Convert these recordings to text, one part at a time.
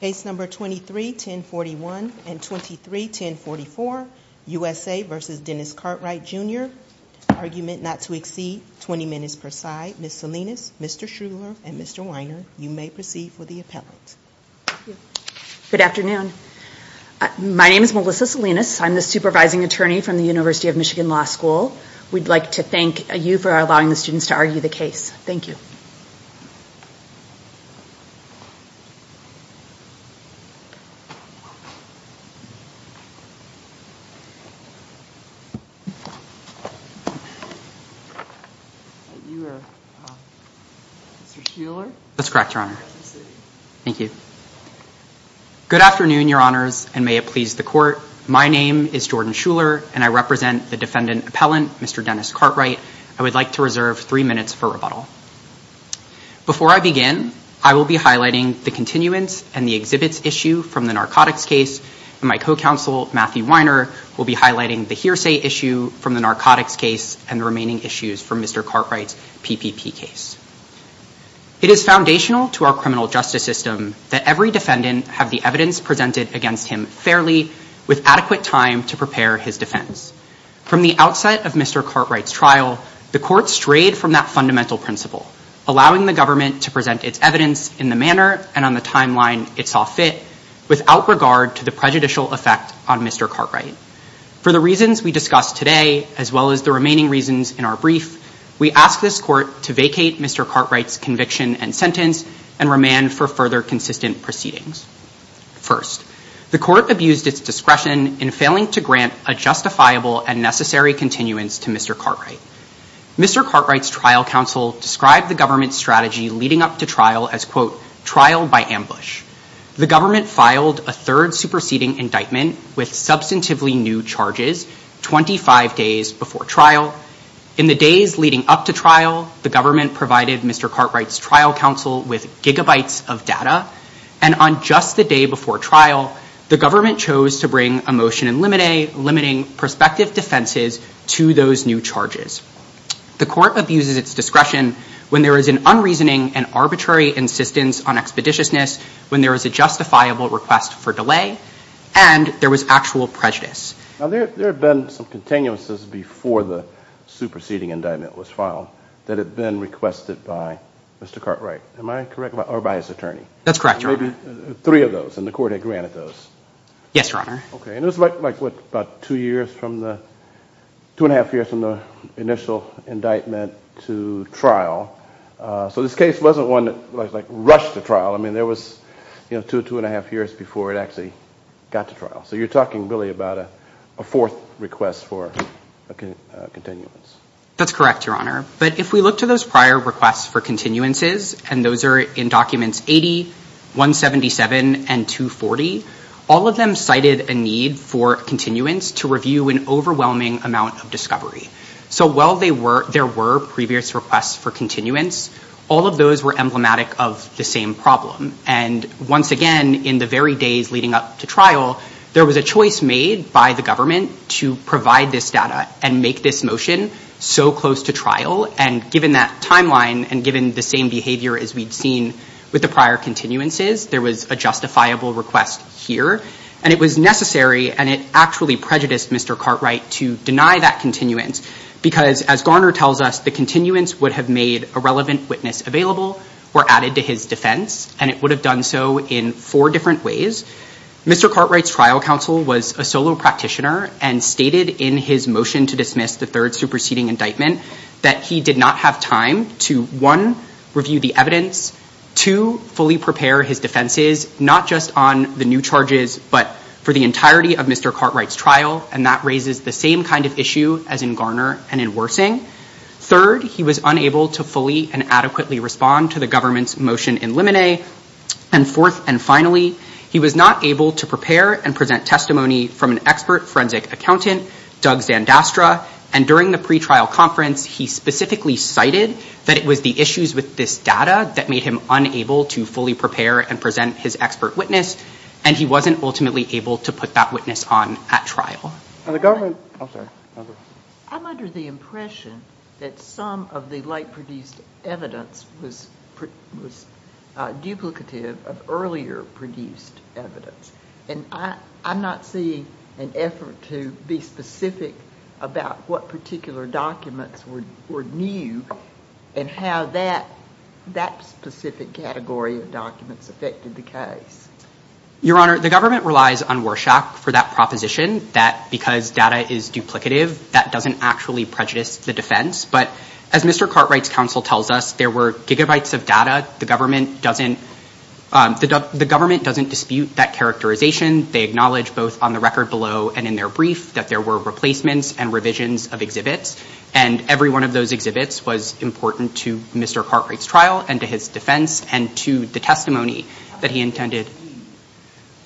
Case number 23-1041 and 23-1044, USA v. Dennis Cartwright Jr., argument not to exceed 20 minutes per side. Ms. Salinas, Mr. Shruler, and Mr. Weiner, you may proceed with the appellate. Thank you. Good afternoon. My name is Melissa Salinas. I'm the supervising attorney from the University of Michigan Law School. We'd like to thank you for allowing the students to argue the case. Thank you. You are Mr. Shruler? That's correct, Your Honor. Thank you. Good afternoon, Your Honors, and may it please the court. My name is Jordan Shruler, and I represent the defendant appellant, Mr. Dennis Cartwright. I would like to reserve three minutes for rebuttal. Before I begin, I will be highlighting the continuance and the exhibits issue from the narcotics case, and my co-counsel, Matthew Weiner, will be highlighting the hearsay issue from the narcotics case and the remaining issues from Mr. Cartwright's PPP case. It is foundational to our criminal justice system that every defendant have the evidence presented against him fairly with adequate time to prepare his defense. From the outset of Mr. Cartwright's trial, the court strayed from that fundamental principle, allowing the government to present its evidence in the manner and on the timeline it saw fit without regard to the prejudicial effect on Mr. Cartwright. For the reasons we discussed today, as well as the remaining reasons in our brief, we ask this court to vacate Mr. Cartwright's conviction and sentence and remand for further consistent proceedings. First, the court abused its discretion in failing to grant a justifiable and necessary continuance to Mr. Cartwright. Mr. Cartwright's trial counsel described the government's strategy leading up to trial as, quote, trial by ambush. The government filed a third superseding indictment with substantively new charges 25 days before trial. In the days leading up to trial, the government provided Mr. Cartwright's trial counsel with gigabytes of data. And on just the day before trial, the government chose to bring a motion limiting prospective defenses to those new charges. The court abuses its discretion when there is an unreasoning and arbitrary insistence on expeditiousness, when there is a justifiable request for delay, and there was actual prejudice. Now, there have been some continuances before the superseding indictment was filed that had been requested by Mr. Cartwright, am I correct? Or by his attorney? That's correct, Your Honor. Maybe three of those, and the court had granted those. Yes, Your Honor. Okay. And it was like, what, about two years from the, two and a half years from the initial indictment to trial, so this case wasn't one that like rushed to trial. I mean, there was, you know, two, two and a half years before it actually got to trial. So you're talking really about a fourth request for continuance. That's correct, Your Honor. But if we look to those prior requests for continuances, and those are in documents 80, 177, and 240, all of them cited a need for continuance to review an overwhelming amount of discovery. So while there were previous requests for continuance, all of those were emblematic of the same problem. And once again, in the very days leading up to trial, there was a choice made by the government to provide this data and make this motion so close to trial. And given that timeline, and given the same behavior as we'd seen with the prior continuances, there was a justifiable request here. And it was necessary, and it actually prejudiced Mr. Cartwright to deny that continuance, because as Garner tells us, the continuance would have made a relevant witness available or added to his defense, and it would have done so in four different ways. Mr. Cartwright's trial counsel was a solo practitioner and stated in his motion to dismiss the third superseding indictment that he did not have time to, one, review the evidence, two, fully prepare his defenses, not just on the new charges, but for the entirety of Mr. Cartwright's trial. And that raises the same kind of issue as in Garner and in Wersing. Third, he was unable to fully and adequately respond to the government's motion in Lemonet. And fourth and finally, he was not able to prepare and present testimony from an expert forensic accountant, Doug Zandastra, and during the pretrial conference, he specifically cited that it was the issues with this data that made him unable to fully prepare and present his expert witness, and he wasn't ultimately able to put that witness on at trial. I'm under the impression that some of the late produced evidence was duplicative of earlier produced evidence, and I'm not seeing an effort to be specific about what particular documents were new and how that specific category of documents affected the case. Your Honor, the government relies on Warshak for that proposition that because data is duplicative, that doesn't actually prejudice the defense. But as Mr. Cartwright's counsel tells us, there were gigabytes of data. The government doesn't dispute that characterization. They acknowledge both on the record below and in their brief that there were replacements and revisions of exhibits, and every one of those exhibits was important to Mr. Cartwright's trial and to his defense and to the testimony that he intended.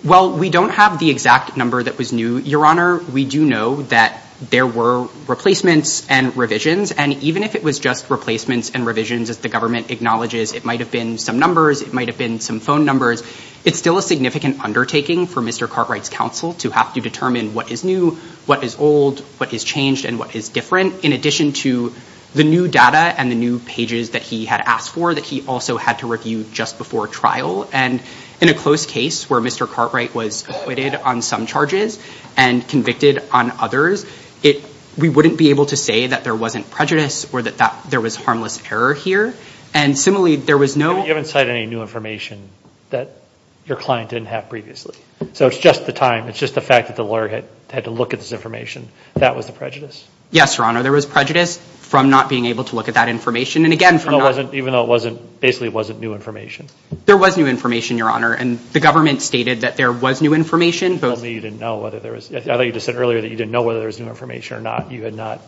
Well, we don't have the exact number that was new, Your Honor. We do know that there were replacements and revisions, and even if it was just replacements and revisions as the government acknowledges, it might have been some numbers. It might have been some phone numbers. It's still a significant undertaking for Mr. Cartwright's counsel to have to determine what is new, what is old, what is changed, and what is different, in addition to the new data and the new pages that he had asked for that he also had to review just before trial. And in a close case where Mr. Cartwright was acquitted on some charges and convicted on others, we wouldn't be able to say that there wasn't prejudice or that there was harmless error here. And similarly, there was no- You haven't cited any new information that your client didn't have previously. So it's just the time. It's just the fact that the lawyer had to look at this information. That was the prejudice? Yes, Your Honor. There was prejudice from not being able to look at that information, and again, from not- even though it wasn't- basically it wasn't new information. There was new information, Your Honor, and the government stated that there was new information. Tell me you didn't know whether there was- I thought you just said earlier that you didn't know whether there was new information or not. You had not-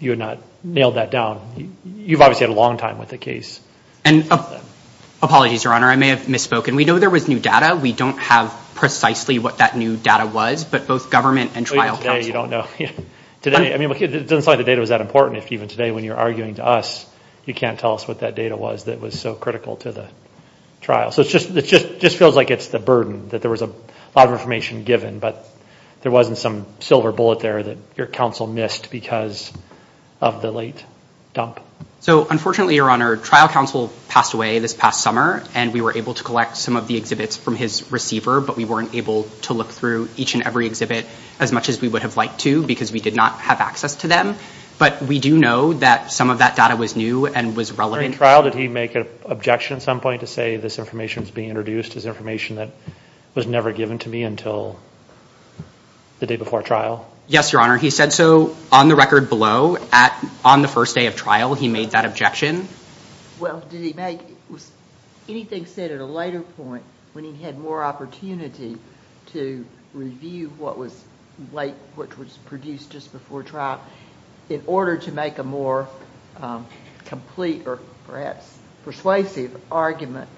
you had not nailed that down. You've obviously had a long time with the case. And apologies, Your Honor. I may have misspoken. We know there was new data. We don't have precisely what that new data was, but both government and trial counsel- Even today, you don't know. Today- I mean, it doesn't sound like the data was that important if even today when you're arguing to us, you can't tell us what that data was that was so critical to the trial. So it's just- it just feels like it's the burden that there was a lot of information given, but there wasn't some silver bullet there that your counsel missed because of the late dump. So unfortunately, Your Honor, trial counsel passed away this past summer, and we were able to collect some of the exhibits from his receiver, but we weren't able to look through each and every exhibit as much as we would have liked to because we did not have access to them. But we do know that some of that data was new and was relevant- During trial, did he make an objection at some point to say this information was being introduced as information that was never given to me until the day before trial? Yes, Your Honor. He said so on the record below, on the first day of trial, he made that objection. Well, did he make- anything said at a later point when he had more opportunity to review what was produced just before trial in order to make a more complete or perhaps persuasive argument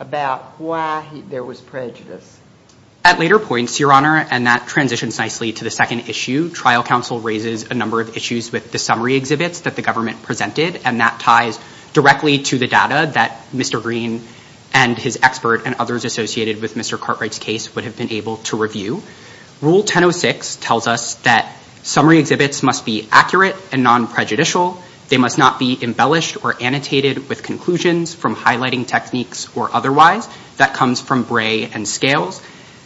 about why there was prejudice? At later points, Your Honor, and that transitions nicely to the second issue, trial counsel raises a number of issues with the summary exhibits that the government presented, and that ties directly to the data that Mr. Green and his expert and others associated with Mr. Cartwright's case would have been able to review. Rule 1006 tells us that summary exhibits must be accurate and non-prejudicial, they must not be embellished or annotated with conclusions from highlighting techniques or otherwise, that comes from Bray and Scales.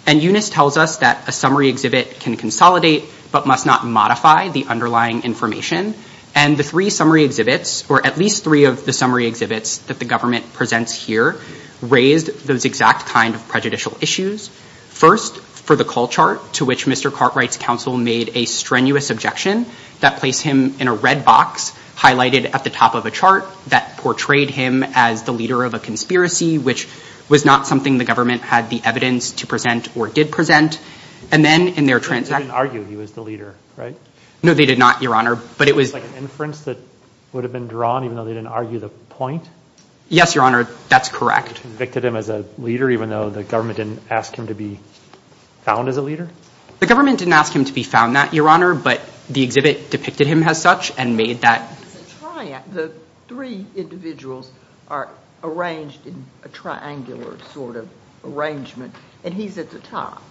And Eunice tells us that a summary exhibit can consolidate but must not modify the underlying information. And the three summary exhibits, or at least three of the summary exhibits that the government presents here, raised those exact kind of prejudicial issues. First, for the call chart, to which Mr. Cartwright's counsel made a strenuous objection that placed him in a red box highlighted at the top of a chart that portrayed him as the leader of a conspiracy, which was not something the government had the evidence to present or did present. And then in their transaction. They didn't argue he was the leader, right? No, they did not, Your Honor, but it was. It was like an inference that would have been drawn even though they didn't argue the point? Yes, Your Honor, that's correct. They convicted him as a leader even though the government didn't ask him to be found as a leader? The government didn't ask him to be found that, Your Honor, but the exhibit depicted him as such and made that. The three individuals are arranged in a triangular sort of arrangement, and he's at the top.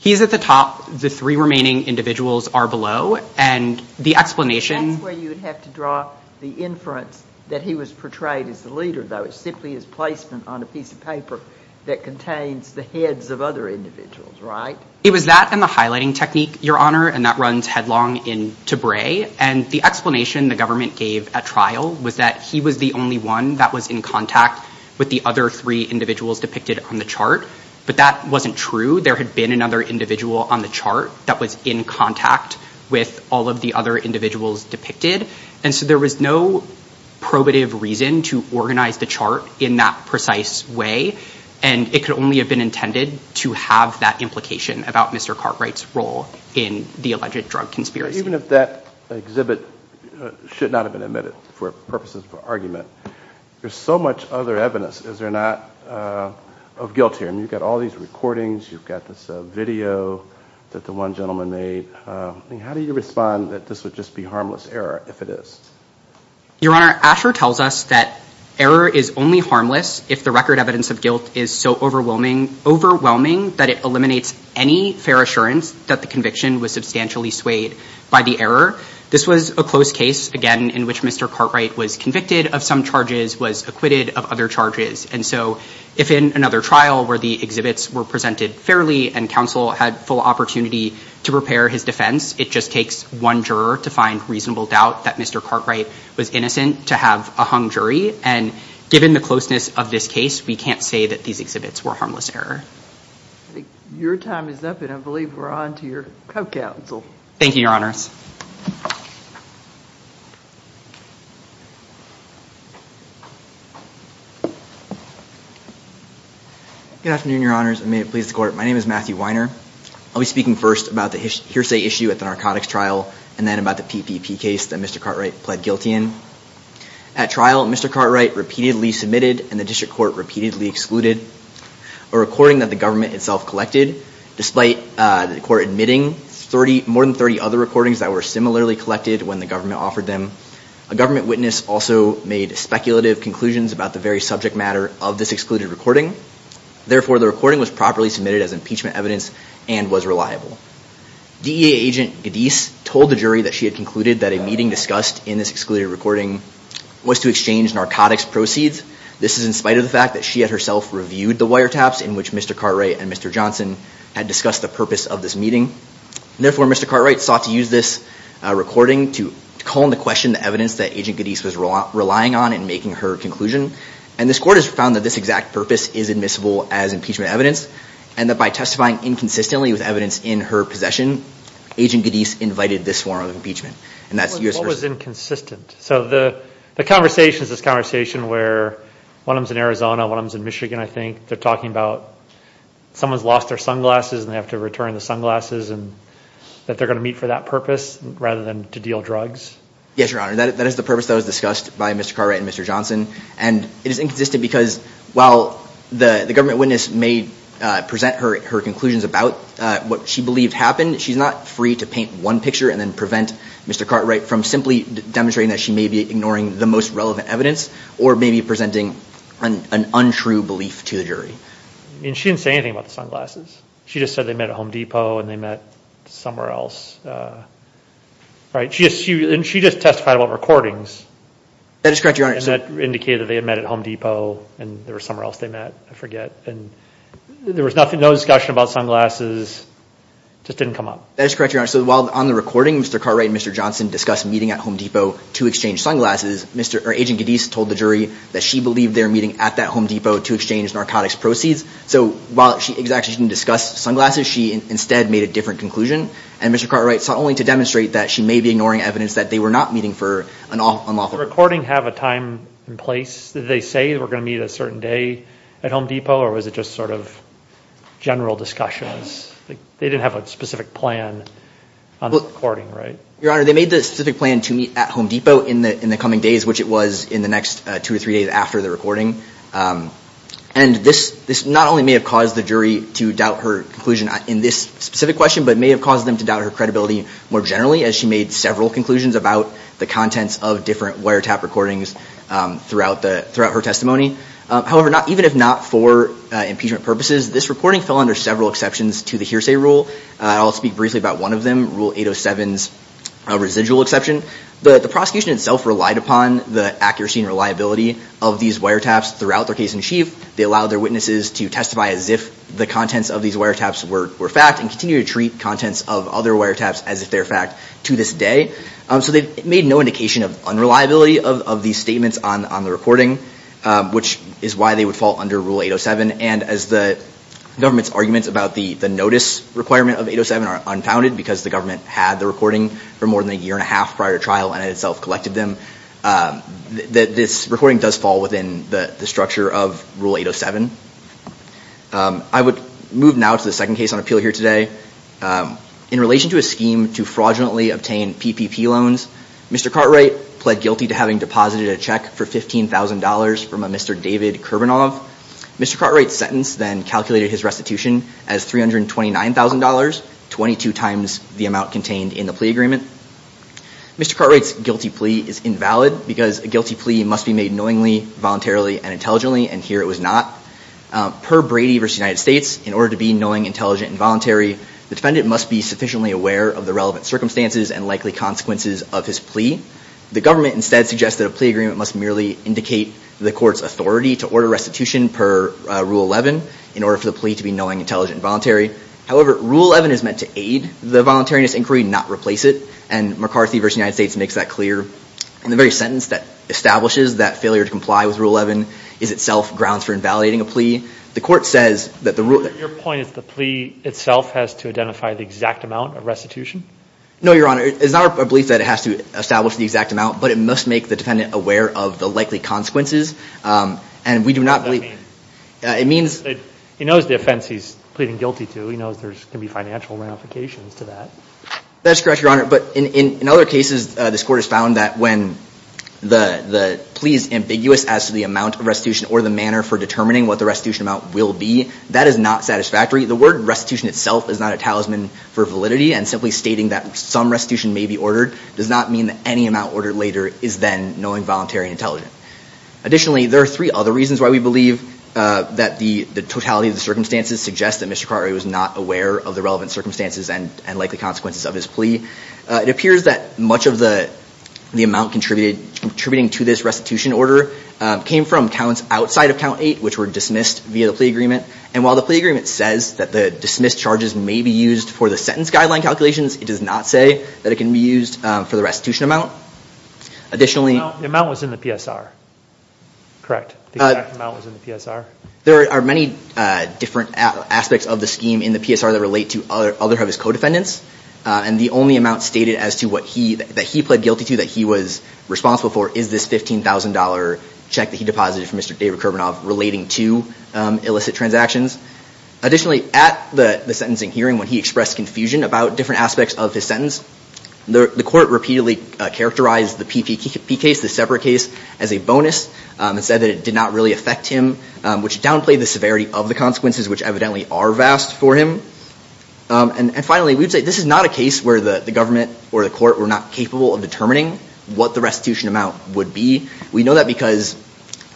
He's at the top. The three remaining individuals are below, and the explanation. That's where you would have to draw the inference that he was portrayed as the leader, though. It's simply his placement on a piece of paper that contains the heads of other individuals, right? It was that and the highlighting technique, Your Honor, and that runs headlong into Bray. And the explanation the government gave at trial was that he was the only one that was in contact with the other three individuals depicted on the chart. But that wasn't true. There had been another individual on the chart that was in contact with all of the other individuals depicted. And so there was no probative reason to organize the chart in that precise way, and it could only have been intended to have that implication about Mr. Cartwright's role in the alleged drug conspiracy. Even if that exhibit should not have been omitted for purposes of argument, there's so much other evidence. Is there not of guilt here? I mean, you've got all these recordings. You've got this video that the one gentleman made. I mean, how do you respond that this would just be harmless error if it is? Your Honor, Asher tells us that error is only harmless if the record evidence of guilt is so overwhelming that it eliminates any fair assurance that the conviction was substantially swayed by the error. This was a close case, again, in which Mr. Cartwright was convicted of some charges, was acquitted of other charges. And so if in another trial where the exhibits were presented fairly and counsel had full opportunity to prepare his defense, it just takes one juror to find reasonable doubt that Mr. Cartwright was innocent to have a hung jury. And given the closeness of this case, we can't say that these exhibits were harmless error. I think your time is up, and I believe we're on to your co-counsel. Thank you, Your Honors. Good afternoon, Your Honors, and may it please the Court. My name is Matthew Weiner. I'll be speaking first about the hearsay issue at the narcotics trial and then about the PPP case that Mr. Cartwright pled guilty in. At trial, Mr. Cartwright repeatedly submitted and the district court repeatedly excluded a recording that the government itself collected despite the court admitting more than 30 other recordings that were similarly collected when the government offered them. A government witness also made speculative conclusions about the very subject matter of this excluded recording. Therefore, the recording was properly submitted as impeachment evidence and was reliable. DEA agent Gadis told the jury that she had concluded that a meeting discussed in this excluded recording was to exchange narcotics proceeds. This is in spite of the fact that she had herself reviewed the wiretaps in which Mr. Cartwright and Mr. Johnson had discussed the purpose of this meeting. Therefore, Mr. Cartwright sought to use this recording to call into question the evidence that agent Gadis was relying on in making her conclusion. And this court has found that this exact purpose is admissible as impeachment evidence and that by testifying inconsistently with evidence in her possession, agent Gadis invited this form of impeachment. And that's U.S. version. What was inconsistent? So the conversation is this conversation where one of them's in Arizona, one of them's in Michigan, I think. They're talking about someone's lost their sunglasses and they have to return the sunglasses and that they're going to meet for that purpose rather than to deal drugs? Yes, Your Honor. That is the purpose that was discussed by Mr. Cartwright and Mr. Johnson. And it is inconsistent because while the government witness may present her conclusions about what she believed happened, she's not free to paint one picture and then prevent Mr. Cartwright from simply demonstrating that she may be ignoring the most relevant evidence or maybe presenting an untrue belief to the jury. I mean, she didn't say anything about the sunglasses. She just said they met at Home Depot and they met somewhere else, right? And she just testified about recordings. That is correct, Your Honor. And that indicated that they had met at Home Depot and there was somewhere else they met, I forget. And there was no discussion about sunglasses. Just didn't come up. That is correct, Your Honor. So while on the recording, Mr. Cartwright and Mr. Johnson discussed meeting at Home Depot to exchange sunglasses, Agent Gaddis told the jury that she believed they were meeting at that Home Depot to exchange narcotics proceeds. So while she exactly didn't discuss sunglasses, she instead made a different conclusion. And Mr. Cartwright sought only to demonstrate that she may be ignoring evidence that they were not meeting for an unlawful purpose. Did the recording have a time and place? Did they say they were going to meet a certain day at Home Depot or was it just sort of general discussions? They didn't have a specific plan on the recording, right? Your Honor, they made the specific plan to meet at Home Depot in the coming days, which it was in the next two or three days after the recording. And this not only may have caused the jury to doubt her conclusion in this specific question, but may have caused them to doubt her credibility more generally as she made several conclusions about the contents of different wiretap recordings throughout her testimony. However, even if not for impeachment purposes, this recording fell under several exceptions to the hearsay rule. I'll speak briefly about one of them, Rule 807's residual exception. But the prosecution itself relied upon the accuracy and reliability of these wiretaps throughout their case in chief. They allowed their witnesses to testify as if the contents of these wiretaps were fact and continue to treat contents of other wiretaps as if they're fact to this day. So they made no indication of unreliability of these statements on the recording, which is why they would fall under Rule 807. And as the government's arguments about the notice requirement of 807 are unfounded because the government had the recording for more than a year and a half prior to trial and itself collected them, this recording does fall within the structure of Rule 807. I would move now to the second case on appeal here today. In relation to a scheme to fraudulently obtain PPP loans, Mr. Cartwright pled guilty to having deposited a check for $15,000 from a Mr. David Kurbanov. Mr. Cartwright's sentence then calculated his restitution as $329,000, 22 times the amount contained in the plea agreement. Mr. Cartwright's guilty plea is invalid because a guilty plea must be made knowingly, voluntarily, and intelligently, and here it was not. Per Brady v. United States, in order to be knowing, intelligent, and voluntary, the defendant must be sufficiently aware of the relevant circumstances and likely consequences of his plea. The government instead suggests that a plea agreement must merely indicate the court's restitution per Rule 11 in order for the plea to be knowing, intelligent, and voluntary. However, Rule 11 is meant to aid the voluntariness inquiry, not replace it, and McCarthy v. United States makes that clear in the very sentence that establishes that failure to comply with Rule 11 is itself grounds for invalidating a plea. The court says that the rule- Your point is the plea itself has to identify the exact amount of restitution? No, Your Honor. It's not our belief that it has to establish the exact amount, but it must make the defendant aware of the likely consequences. And we do not believe- I mean, he knows the offense he's pleading guilty to. He knows there can be financial ramifications to that. That's correct, Your Honor. But in other cases, this court has found that when the plea is ambiguous as to the amount of restitution or the manner for determining what the restitution amount will be, that is not satisfactory. The word restitution itself is not a talisman for validity, and simply stating that some restitution may be ordered does not mean that any amount ordered later is then knowing, voluntary, and intelligent. Additionally, there are three other reasons why we believe that the totality of the circumstances suggests that Mr. Carver was not aware of the relevant circumstances and likely consequences of his plea. It appears that much of the amount contributing to this restitution order came from counts outside of Count 8, which were dismissed via the plea agreement. And while the plea agreement says that the dismissed charges may be used for the sentence guideline calculations, it does not say that it can be used for the restitution amount. Additionally- The amount was in the PSR, correct? The exact amount was in the PSR? There are many different aspects of the scheme in the PSR that relate to other of his co-defendants. And the only amount stated as to what he, that he pled guilty to that he was responsible for is this $15,000 check that he deposited from Mr. David Karbanov relating to illicit transactions. Additionally, at the sentencing hearing, when he expressed confusion about different aspects of his sentence, the court repeatedly characterized the PPK the separate case as a bonus and said that it did not really affect him, which downplayed the severity of the consequences which evidently are vast for him. And finally, we would say this is not a case where the government or the court were not capable of determining what the restitution amount would be. We know that because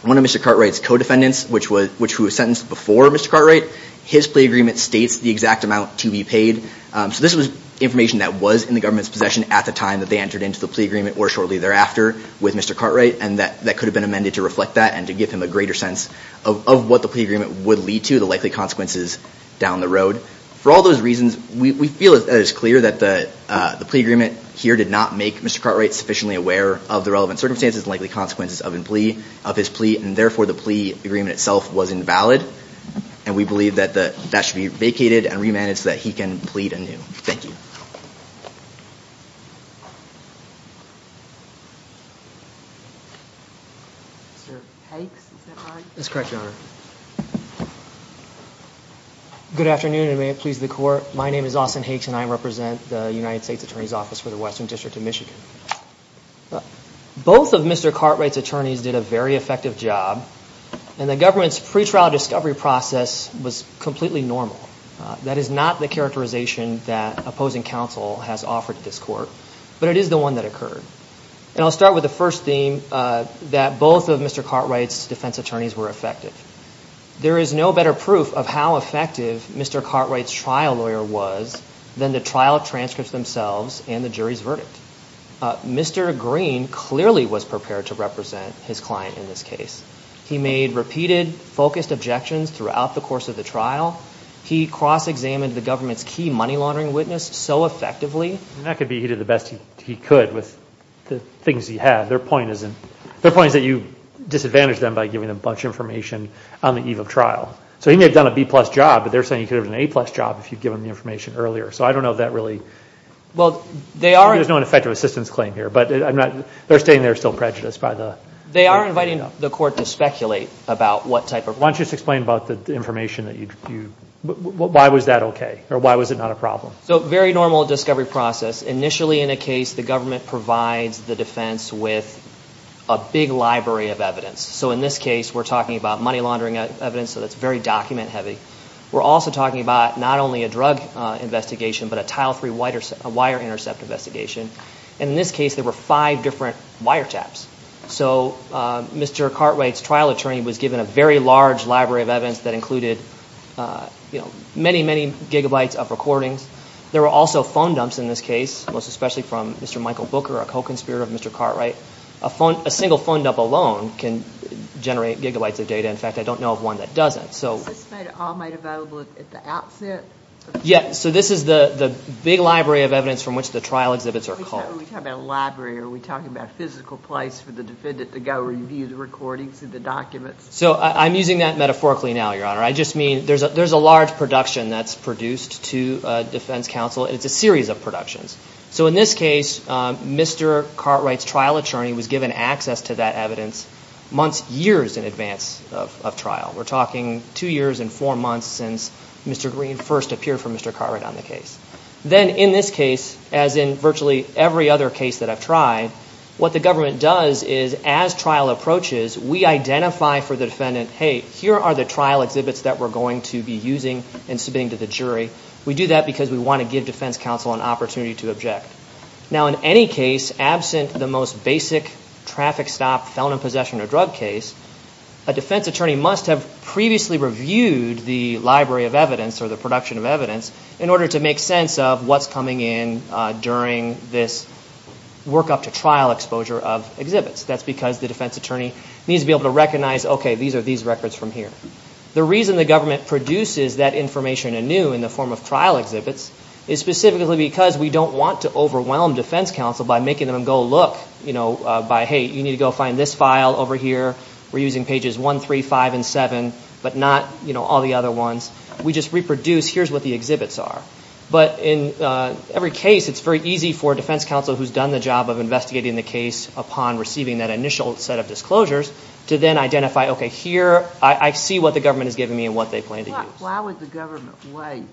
one of Mr. Cartwright's co-defendants, which was, which was sentenced before Mr. Cartwright, his plea agreement states the exact amount to be paid. So this was information that was in the government's possession at the time that they entered into the plea agreement or shortly thereafter with Mr. Cartwright and that could have been amended to reflect that and to give him a greater sense of what the plea agreement would lead to the likely consequences down the road. For all those reasons, we feel it is clear that the plea agreement here did not make Mr. Cartwright sufficiently aware of the relevant circumstances and likely consequences of his plea and therefore the plea agreement itself was invalid. And we believe that that should be vacated and remanded so that he can plead anew. Thank you. Mr. Hakes, is that right? That's correct, Your Honor. Good afternoon and may it please the court. My name is Austin Hakes and I represent the United States Attorney's Office for the Western District of Michigan. Both of Mr. Cartwright's attorneys did a very effective job and the government's pretrial discovery process was completely normal. That is not the characterization that opposing counsel has offered this court, but it is the one that occurred. And I'll start with the first theme that both of Mr. Cartwright's defense attorneys were effective. There is no better proof of how effective Mr. Cartwright's trial lawyer was than the trial transcripts themselves and the jury's verdict. Mr. Green clearly was prepared to represent his client in this case. He made repeated, focused objections throughout the course of the trial, he cross-examined the government's key money laundering witness so effectively. That could be he did the best he could with the things he had. Their point is that you disadvantaged them by giving them a bunch of information on the eve of trial. So he may have done a B-plus job, but they're saying he could have done an A-plus job if you'd given him the information earlier. So I don't know if that really... Well, they are... There's no ineffective assistance claim here, but they're staying there still prejudiced by the... They are inviting the court to speculate about what type of... Why don't you just explain about the information that you... Why was that okay or why was it not a problem? So very normal discovery process. Initially in a case, the government provides the defense with a big library of evidence. So in this case, we're talking about money laundering evidence, so that's very document heavy. We're also talking about not only a drug investigation, but a tile-free wire intercept investigation. And in this case, there were five different wiretaps. So Mr. Cartwright's trial attorney was given a very large library of evidence that included, you know, many, many gigabytes of recordings. There were also phone dumps in this case, most especially from Mr. Michael Booker, a co-conspirator of Mr. Cartwright. A single phone dump alone can generate gigabytes of data. In fact, I don't know of one that doesn't. So... Is this made at all made available at the outset? Yes. So this is the big library of evidence from which the trial exhibits are called. Are we talking about a library or are we talking about a physical place for the defendant to go review the recordings and the documents? So I'm using that metaphorically now, Your Honor. I just mean there's a large production that's produced to defense counsel and it's a series of productions. So in this case, Mr. Cartwright's trial attorney was given access to that evidence months, years in advance of trial. We're talking two years and four months since Mr. Green first appeared for Mr. Cartwright on the case. Then in this case, as in virtually every other case that I've tried, what the government does is as trial approaches, we identify for the defendant, hey, here are the trial exhibits that we're going to be using and submitting to the jury. We do that because we want to give defense counsel an opportunity to object. Now in any case, absent the most basic traffic stop, felon in possession or drug case, a defense attorney must have previously reviewed the library of evidence or the production of evidence in order to make sense of what's coming in during this work up to trial exposure of exhibits. That's because the defense attorney needs to be able to recognize, okay, these are these records from here. The reason the government produces that information anew in the form of trial exhibits is specifically because we don't want to overwhelm defense counsel by making them go look, you know, by, hey, you need to go find this file over here. We're using pages 1, 3, 5, and 7, but not, you know, all the other ones. We just reproduce, here's what the exhibits are. But in every case, it's very easy for defense counsel who's done the job of investigating the case upon receiving that initial set of disclosures to then identify, okay, here, I see what the government is giving me and what they plan to use. Why would the government wait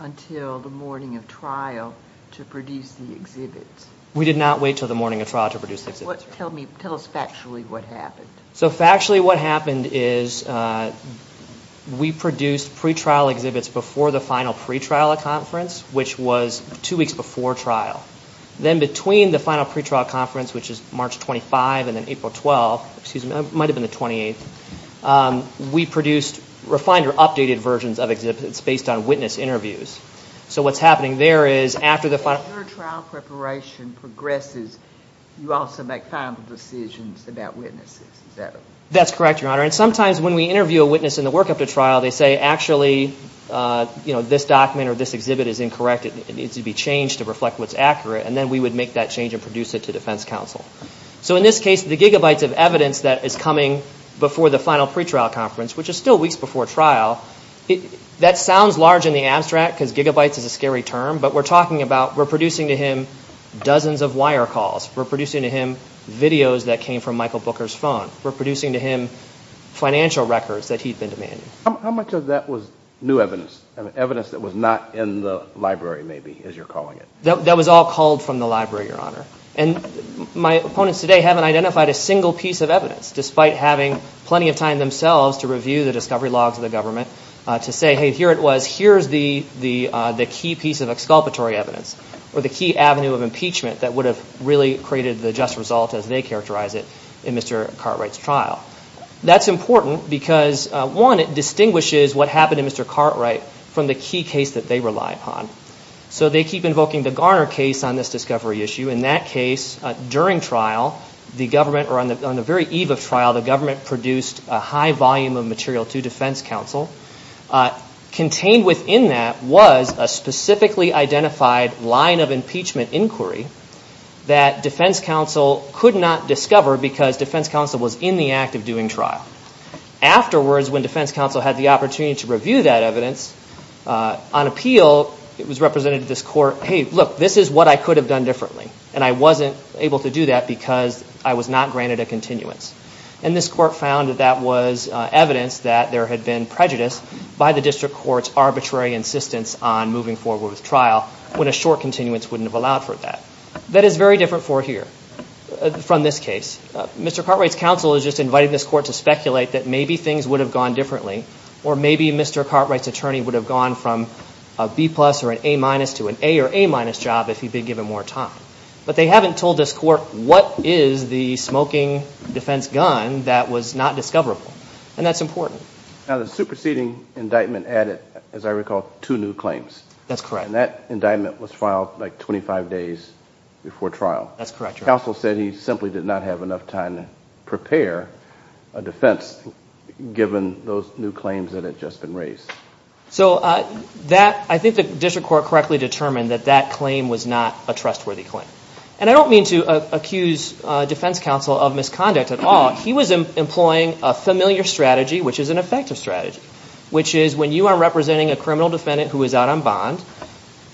until the morning of trial to produce the exhibits? We did not wait until the morning of trial to produce the exhibits. Tell me, tell us factually what happened. So factually what happened is we produced pretrial exhibits before the final pretrial conference, which was two weeks before trial. Then between the final pretrial conference, which is March 25 and then April 12, excuse me, it might have been the 28th, we produced refined or updated versions of exhibits based on witness interviews. So what's happening there is after the final. When your trial preparation progresses, you also make final decisions about witnesses, is that? That's correct, Your Honor. And sometimes when we interview a witness in the work after trial, they say, actually, you know, this document or this exhibit is incorrect. It needs to be changed to reflect what's accurate. And then we would make that change and produce it to defense counsel. So in this case, the gigabytes of evidence that is coming before the final pretrial conference, which is still weeks before trial, that sounds large in the abstract because gigabytes is a scary term, but we're talking about, we're producing to him dozens of wire calls. We're producing to him videos that came from Michael Booker's phone. We're producing to him financial records that he'd been demanding. How much of that was new evidence, evidence that was not in the library maybe, as you're calling it? That was all called from the library, Your Honor. And my opponents today haven't identified a single piece of evidence, despite having plenty of time themselves to review the discovery logs of the government, to say, hey, here it was, here's the key piece of exculpatory evidence or the key avenue of impeachment that would have really created the just result as they characterize it in Mr. Cartwright's trial. That's important because, one, it distinguishes what happened to Mr. Cartwright from the key case that they rely upon. So they keep invoking the Garner case on this discovery issue, and that case, during trial, the government, or on the very eve of trial, the government produced a high volume of material to defense counsel. Contained within that was a specifically identified line of impeachment inquiry that defense counsel could not discover because defense counsel was in the act of doing trial. Afterwards, when defense counsel had the opportunity to review that evidence, on appeal, it was represented to this court, hey, look, this is what I could have done differently. And I wasn't able to do that because I was not granted a continuance. And this court found that that was evidence that there had been prejudice by the district court's arbitrary insistence on moving forward with trial when a short continuance wouldn't have allowed for that. That is very different for here, from this case. Mr. Cartwright's counsel is just inviting this court to speculate that maybe things would have gone differently or maybe Mr. Cartwright's attorney would have gone from a B plus or an A minus to an A or A minus job if he'd been given more time. But they haven't told this court what is the smoking defense gun that was not discoverable, and that's important. Now, the superseding indictment added, as I recall, two new claims. That's correct. And that indictment was filed like 25 days before trial. That's correct. Counsel said he simply did not have enough time to prepare a defense given those new claims that had just been raised. So that, I think the district court correctly determined that that claim was not a trustworthy claim. And I don't mean to accuse defense counsel of misconduct at all. He was employing a familiar strategy, which is an effective strategy, which is when you are representing a criminal defendant who is out on bond,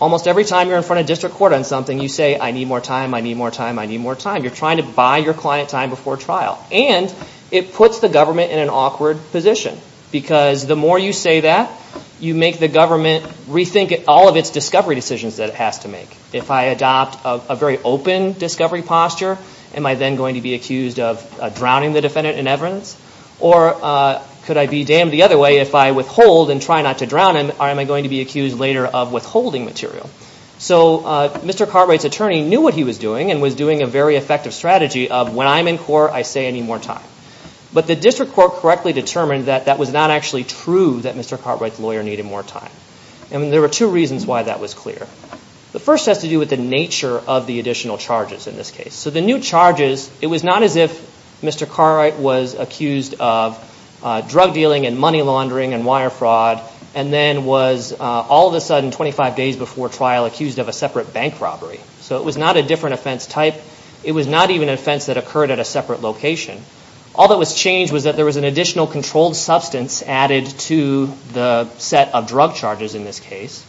almost every time you're in front of district court on something, you say, I need more time, I need more time, I need more time. You're trying to buy your client time before trial. And it puts the government in an awkward position because the more you say that, you make the government rethink all of its discovery decisions that it has to make. If I adopt a very open discovery posture, am I then going to be accused of drowning the defendant in evidence? Or could I be damned the other way if I withhold and try not to drown him, or am I going to be accused later of withholding material? So Mr. Cartwright's attorney knew what he was doing and was doing a very effective strategy of when I'm in court, I say I need more time. But the district court correctly determined that that was not actually true that Mr. Cartwright's lawyer needed more time. And there were two reasons why that was clear. The first has to do with the nature of the additional charges in this case. So the new charges, it was not as if Mr. Cartwright was accused of drug dealing and money laundering and wire fraud and then was all of a sudden 25 days before trial accused of a separate bank robbery. So it was not a different offense type. It was not even an offense that occurred at a separate location. All that was changed was that there was an additional controlled substance added to the set of drug charges in this case.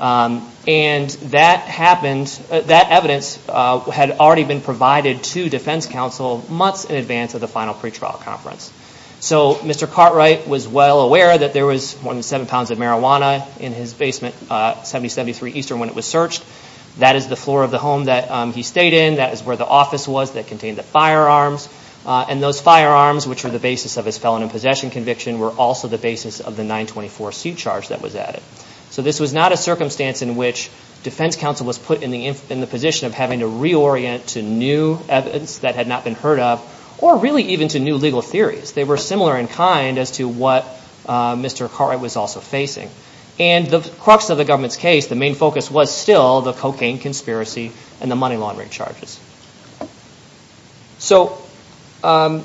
And that happened, that evidence had already been provided to defense counsel months in advance of the final pretrial conference. So Mr. Cartwright was well aware that there was more than seven pounds of marijuana in his basement, 7073 Eastern when it was searched. That is the floor of the home that he stayed in. That is where the office was that contained the firearms. And those firearms, which were the basis of his felon and possession conviction, were also the basis of the 924 suit charge that was added. So this was not a circumstance in which defense counsel was put in the position of having to reorient to new evidence that had not been heard of or really even to new legal theories. They were similar in kind as to what Mr. Cartwright was also facing. And the crux of the government's case, the main focus was still the cocaine conspiracy and the money laundering charges. So I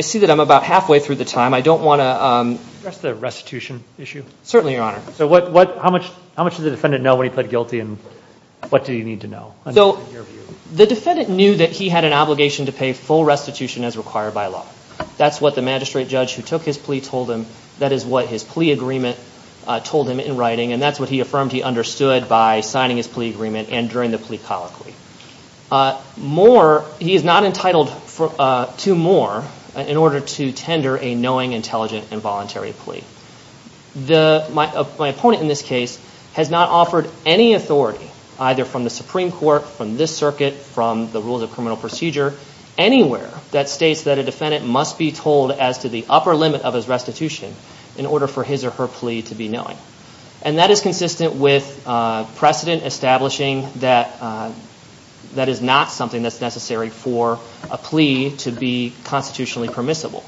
see that I'm about halfway through the time. I don't want to... Address the restitution issue? Certainly, Your Honor. So how much did the defendant know when he pled guilty and what do you need to know? So the defendant knew that he had an obligation to pay full restitution as required by law. That's what the magistrate judge who took his plea told him. That is what his plea agreement told him in writing. And that's what he affirmed he understood by signing his plea agreement and during the plea colloquy. More, he is not entitled to more in order to tender a knowing, intelligent, and voluntary plea. My opponent in this case has not offered any authority either from the Supreme Court, from this circuit, from the rules of criminal procedure, anywhere that states that a defendant must be told as to the upper limit of his restitution in order for his or her plea to be knowing. And that is consistent with precedent establishing that that is not something that's necessary for a plea to be constitutionally permissible.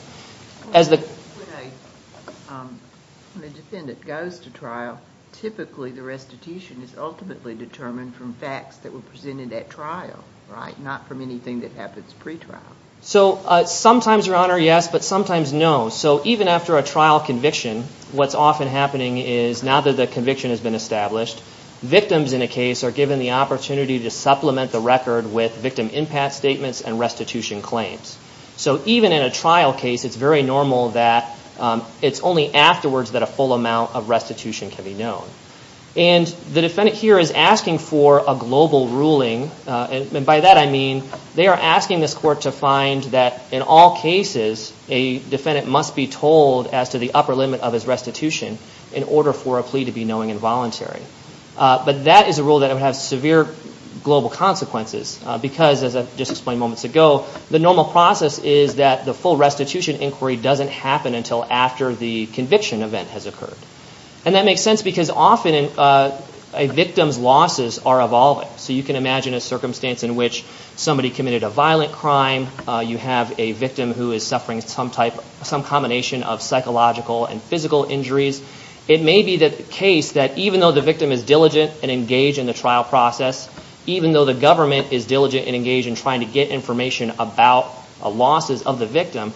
When a defendant goes to trial, typically the restitution is ultimately determined from facts that were presented at trial, right? Not from anything that happens pre-trial. So sometimes, Your Honor, yes, but sometimes no. So even after a trial conviction, what's often happening is now that the conviction has been established, victims in a case are given the opportunity to supplement the record with victim impact statements and restitution claims. So even in a trial case, it's very normal that it's only afterwards that a full amount of restitution can be known. And the defendant here is asking for a global ruling, and by that I mean they are asking this court to find that in all cases, a defendant must be told as to the upper limit of his restitution in order for a plea to be knowing and voluntary. But that is a rule that would have severe global consequences because, as I've just explained moments ago, the normal process is that the full restitution inquiry doesn't happen until after the conviction event has occurred. And that makes sense because often a victim's losses are evolving, so you can imagine a circumstance in which somebody committed a violent crime, you have a victim who is suffering some combination of psychological and physical injuries, it may be the case that even though the victim is diligent and engaged in the trial process, even though the government is diligent and engaged in trying to get information about losses of the victim,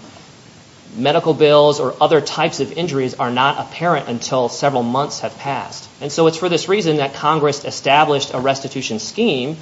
medical bills or other types of injuries are not apparent until several months have passed. And so it's for this reason that Congress established a restitution scheme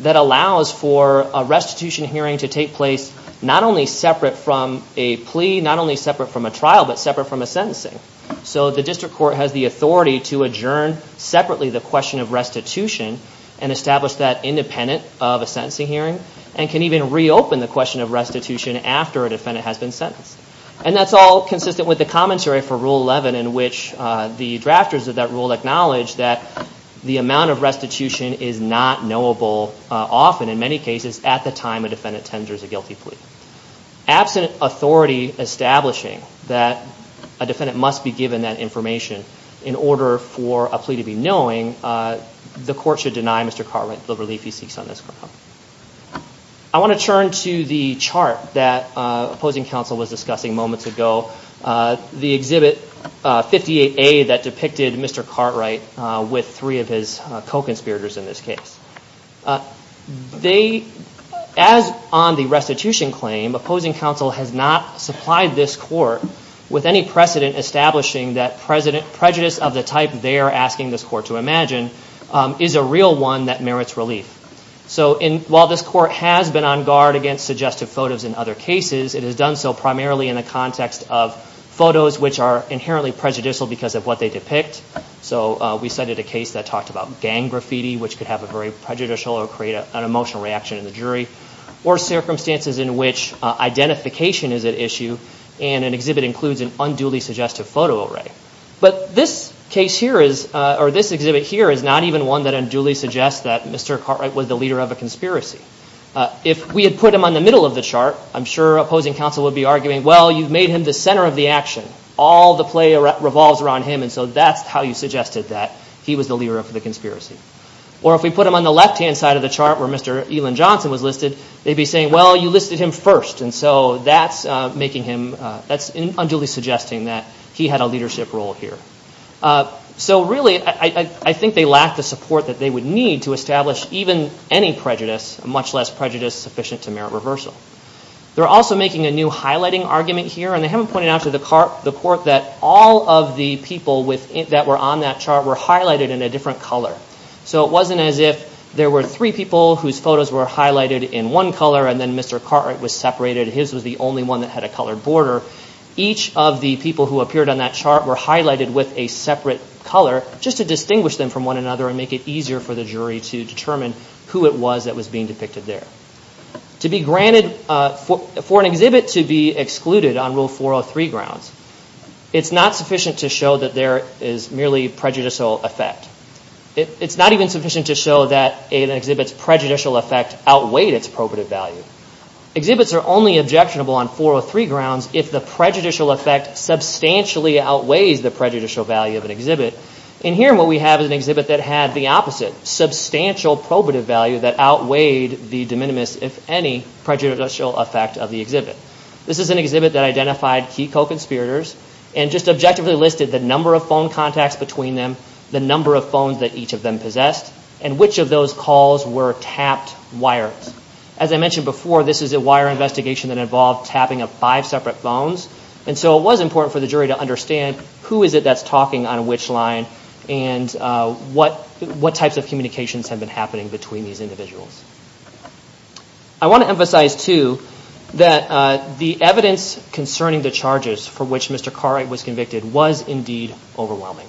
that allows for a restitution hearing to take place not only separate from a plea, not only separate from a trial, but separate from a sentencing. So the district court has the authority to adjourn separately the question of restitution and establish that independent of a sentencing hearing and can even reopen the question of restitution after a defendant has been sentenced. And that's all consistent with the commentary for Rule 11 in which the drafters of that rule acknowledge that the amount of restitution is not knowable often, in many cases, at the time a defendant tenders a guilty plea. Absent authority establishing that a defendant must be given that information in order for a plea to be knowing, the court should deny Mr. Cartwright the relief he seeks on this ground. I want to turn to the chart that opposing counsel was discussing moments ago, the exhibit 58A that depicted Mr. Cartwright with three of his co-conspirators in this case. As on the restitution claim, opposing counsel has not supplied this court with any precedent establishing that prejudice of the type they are asking this court to imagine is a real one that merits relief. So while this court has been on guard against suggestive photos in other cases, it has done so primarily in the context of photos which are inherently prejudicial because of what they depict. So we cited a case that talked about gang graffiti which could have a very prejudicial or create an emotional reaction in the jury or circumstances in which identification is at issue and an exhibit includes an unduly suggestive photo array. But this case here is, or this exhibit here is not even one that unduly suggests that Mr. Cartwright was the leader of a conspiracy. If we had put him on the middle of the chart, I'm sure opposing counsel would be arguing, well, you've made him the center of the action. All the play revolves around him and so that's how you suggested that he was the leader of the conspiracy. Or if we put him on the left-hand side of the chart where Mr. Elan Johnson was listed, they'd be saying, well, you listed him first. And so that's making him, that's unduly suggesting that he had a leadership role here. So really, I think they lack the support that they would need to establish even any prejudice, much less prejudice sufficient to merit reversal. They're also making a new highlighting argument here and they haven't pointed out to the court that all of the people that were on that chart were highlighted in a different color. So it wasn't as if there were three people whose photos were highlighted in one color and then Mr. Cartwright was separated and his was the only one that had a colored border. Each of the people who appeared on that chart were highlighted with a separate color just to distinguish them from one another and make it easier for the jury to determine who it was that was being depicted there. To be granted, for an exhibit to be excluded on Rule 403 grounds, it's not sufficient to show that there is merely prejudicial effect. It's not even sufficient to show that an exhibit's prejudicial effect outweighed its appropriate value. Exhibits are only objectionable on 403 grounds if the prejudicial effect substantially outweighs the prejudicial value of an exhibit. And here what we have is an exhibit that had the opposite, substantial probative value that outweighed the de minimis, if any, prejudicial effect of the exhibit. This is an exhibit that identified key co-conspirators and just objectively listed the number of phone contacts between them, the number of phones that each of them possessed, and which of those calls were tapped wires. As I mentioned before, this is a wire investigation that involved tapping of five separate phones. And so it was important for the jury to understand who is it that's talking on which line, and what types of communications have been happening between these individuals. I want to emphasize, too, that the evidence concerning the charges for which Mr. Cartwright was convicted was, indeed, overwhelming.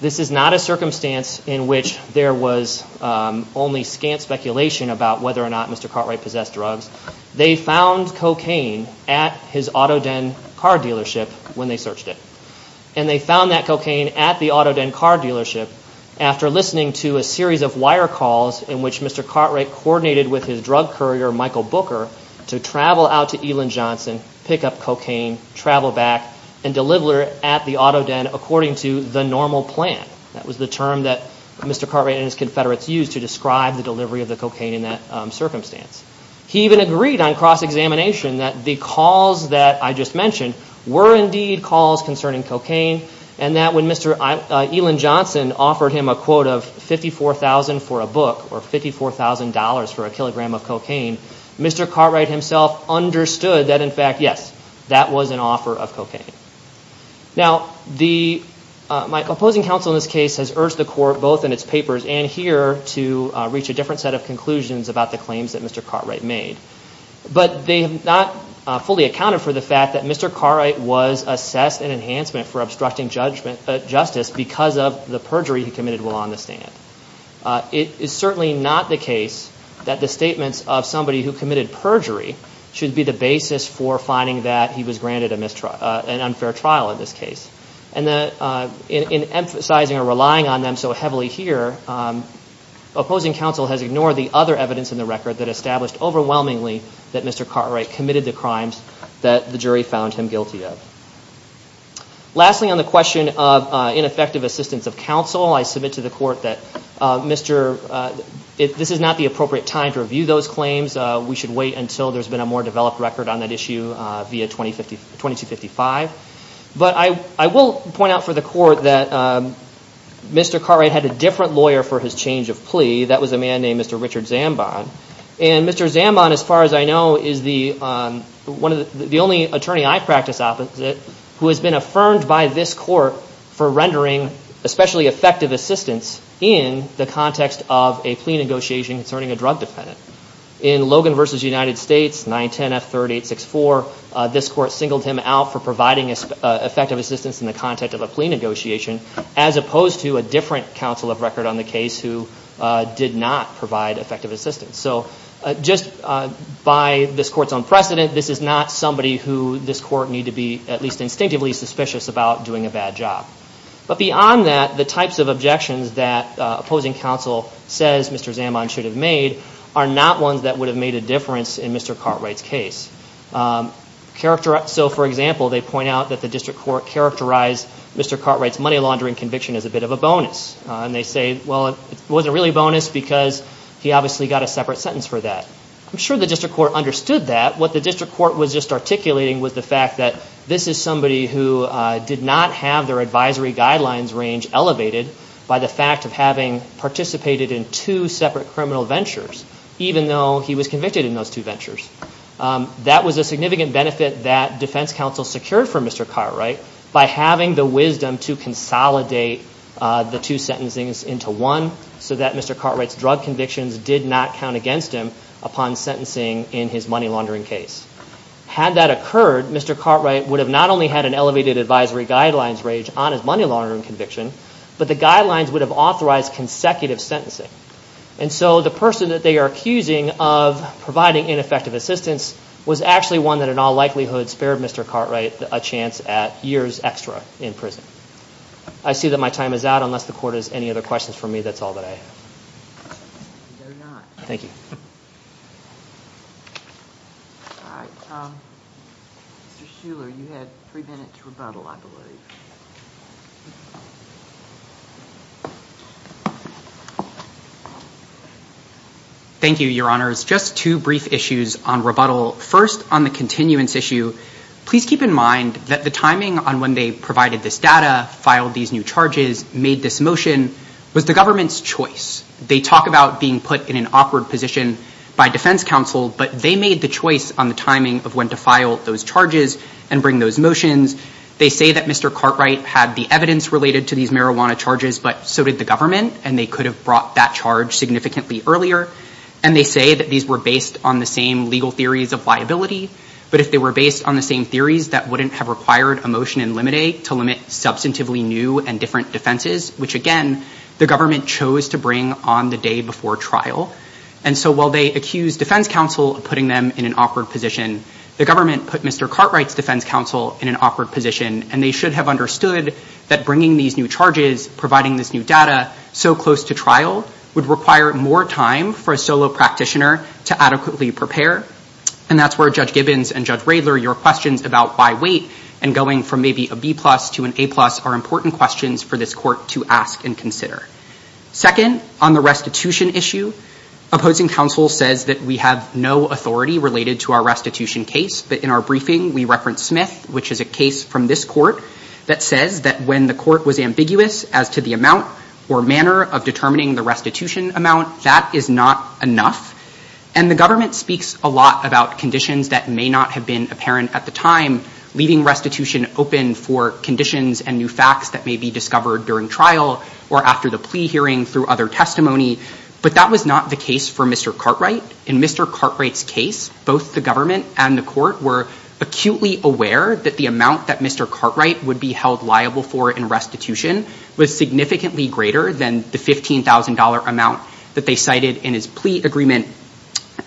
This is not a circumstance in which there was only scant speculation about whether or not Mr. Cartwright possessed drugs. They found cocaine at his Auto Den car dealership when they searched it. And they found that cocaine at the Auto Den car dealership after listening to a series of wire calls in which Mr. Cartwright coordinated with his drug courier, Michael Booker, to travel out to Elan Johnson, pick up cocaine, travel back, and deliver it at the Auto Den according to the normal plan. That was the term that Mr. Cartwright and his confederates used to describe the delivery of the cocaine in that circumstance. He even agreed on cross-examination that the calls that I just mentioned were, indeed, calls concerning cocaine. And that when Mr. Elan Johnson offered him a quote of $54,000 for a book, or $54,000 for a kilogram of cocaine, Mr. Cartwright himself understood that, in fact, yes, that was an offer of cocaine. Now, my opposing counsel in this case has urged the court, both in its papers and here, to reach a different set of conclusions about the claims that Mr. Cartwright made. But they have not fully accounted for the fact that Mr. Cartwright was assessed an enhancement for obstructing justice because of the perjury he committed while on the stand. It is certainly not the case that the statements of somebody who committed perjury should be the basis for finding that he was granted an unfair trial in this case. And in emphasizing or relying on them so heavily here, opposing counsel has ignored the other evidence in the record that established overwhelmingly that Mr. Cartwright committed the crimes that the jury found him guilty of. Lastly, on the question of ineffective assistance of counsel, I submit to the court that this is not the appropriate time to review those claims. We should wait until there's been a more developed record on that issue via 2255. But I will point out for the court that Mr. Cartwright had a different lawyer for his change of plea. That was a man named Mr. Richard Zambon. And Mr. Zambon, as far as I know, is the only attorney I practice opposite who has been affirmed by this court for rendering especially effective assistance in the context of a plea negotiation concerning a drug defendant. In Logan v. United States, 910F3864, this court singled him out for providing effective assistance in the context of a plea negotiation as opposed to a different counsel of record on the case who did not provide effective assistance. So just by this court's own precedent, this is not somebody who this court need to be at least instinctively suspicious about doing a bad job. But beyond that, the types of objections that opposing counsel says Mr. Zambon should have made are not ones that would have made a difference in Mr. Cartwright's case. So, for example, they point out that the district court characterized Mr. Cartwright's money laundering conviction as a bit of a bonus. And they say, well, it wasn't really a bonus because he obviously got a separate sentence for that. I'm sure the district court understood that. What the district court was just articulating was the fact that this is somebody who did not have their advisory guidelines range elevated by the fact of having participated in two separate criminal ventures, even though he was convicted in those two ventures. That was a significant benefit that defense counsel secured for Mr. Cartwright by having the wisdom to consolidate the two sentencings into one so that Mr. Cartwright's drug convictions did not count against him upon sentencing in his money laundering case. Had that occurred, Mr. Cartwright would have not only had an elevated advisory guidelines range on his money laundering conviction, but the guidelines would have authorized consecutive sentencing. And so the person that they are accusing of providing ineffective assistance was actually one that in all likelihood spared Mr. Cartwright a chance at years extra in prison. I see that my time is out, unless the court has any other questions for me. That's all that I have. They're not. Thank you. All right. Mr. Shuler, you had three minutes to rebuttal, I believe. Thank you, Your Honors. Just two brief issues on rebuttal. First, on the continuance issue, please keep in mind that the timing on when they provided this data, filed these new charges, made this motion was the government's choice. They talk about being put in an awkward position by defense counsel, but they made the choice on the timing of when to file those charges and bring those motions. They say that Mr. Cartwright had the evidence related to these marijuana charges, but so did the government, and they could have brought that charge significantly earlier. And they say that these were based on the same legal theories of liability, but if they were based on the same theories that wouldn't have required a motion in limite to limit substantively new and different defenses, which again, the government chose to bring on the day before trial. And so while they accused defense counsel of putting them in an awkward position, the government put Mr. Cartwright's defense counsel in an awkward position, and they should have understood that bringing these new charges, providing this new data so close to trial would require more time for a solo practitioner to adequately prepare. And that's where Judge Gibbons and Judge Radler, your questions about by weight and going from maybe a B plus to an A plus are important questions for this court to ask and consider. Second, on the restitution issue, opposing counsel says that we have no authority related to our restitution case, but in our briefing, we reference Smith, which is a case from this court that says that when the court was ambiguous as to the amount or manner of determining the restitution amount, that is not enough. And the government speaks a lot about conditions that may not have been apparent at the time, leaving restitution open for conditions and new facts that may be discovered during trial or after the plea hearing through other testimony. But that was not the case for Mr. Cartwright. In Mr. Cartwright's case, both the government and the court were acutely aware that the amount that Mr. Cartwright would be held liable for in restitution was significantly greater than the $15,000 amount that they cited in his plea agreement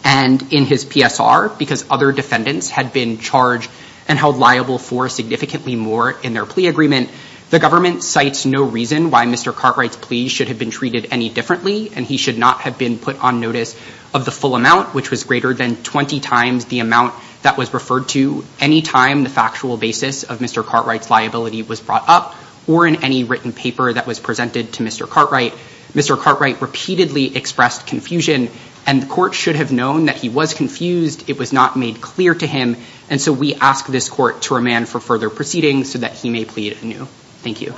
and in his PSR, because other defendants had been charged and held liable for significantly more in their plea agreement. The government cites no reason why Mr. Cartwright's plea should have been treated any differently, and he should not have been put on notice of the full amount, which was greater than 20 times the amount that was referred to any time the factual basis of Mr. Cartwright's liability was brought up or in any written paper that was presented to Mr. Cartwright. Mr. Cartwright repeatedly expressed confusion, and the court should have known that he was confused. It was not made clear to him, and so we ask this court to remand for further proceedings so that he may plead anew. Thank you.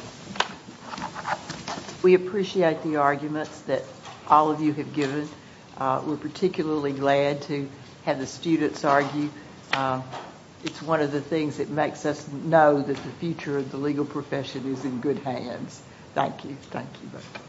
We appreciate the arguments that all of you have given. We're particularly glad to have the students argue. It's one of the things that makes us know that the future of the legal profession is in good hands. Thank you. Thank you.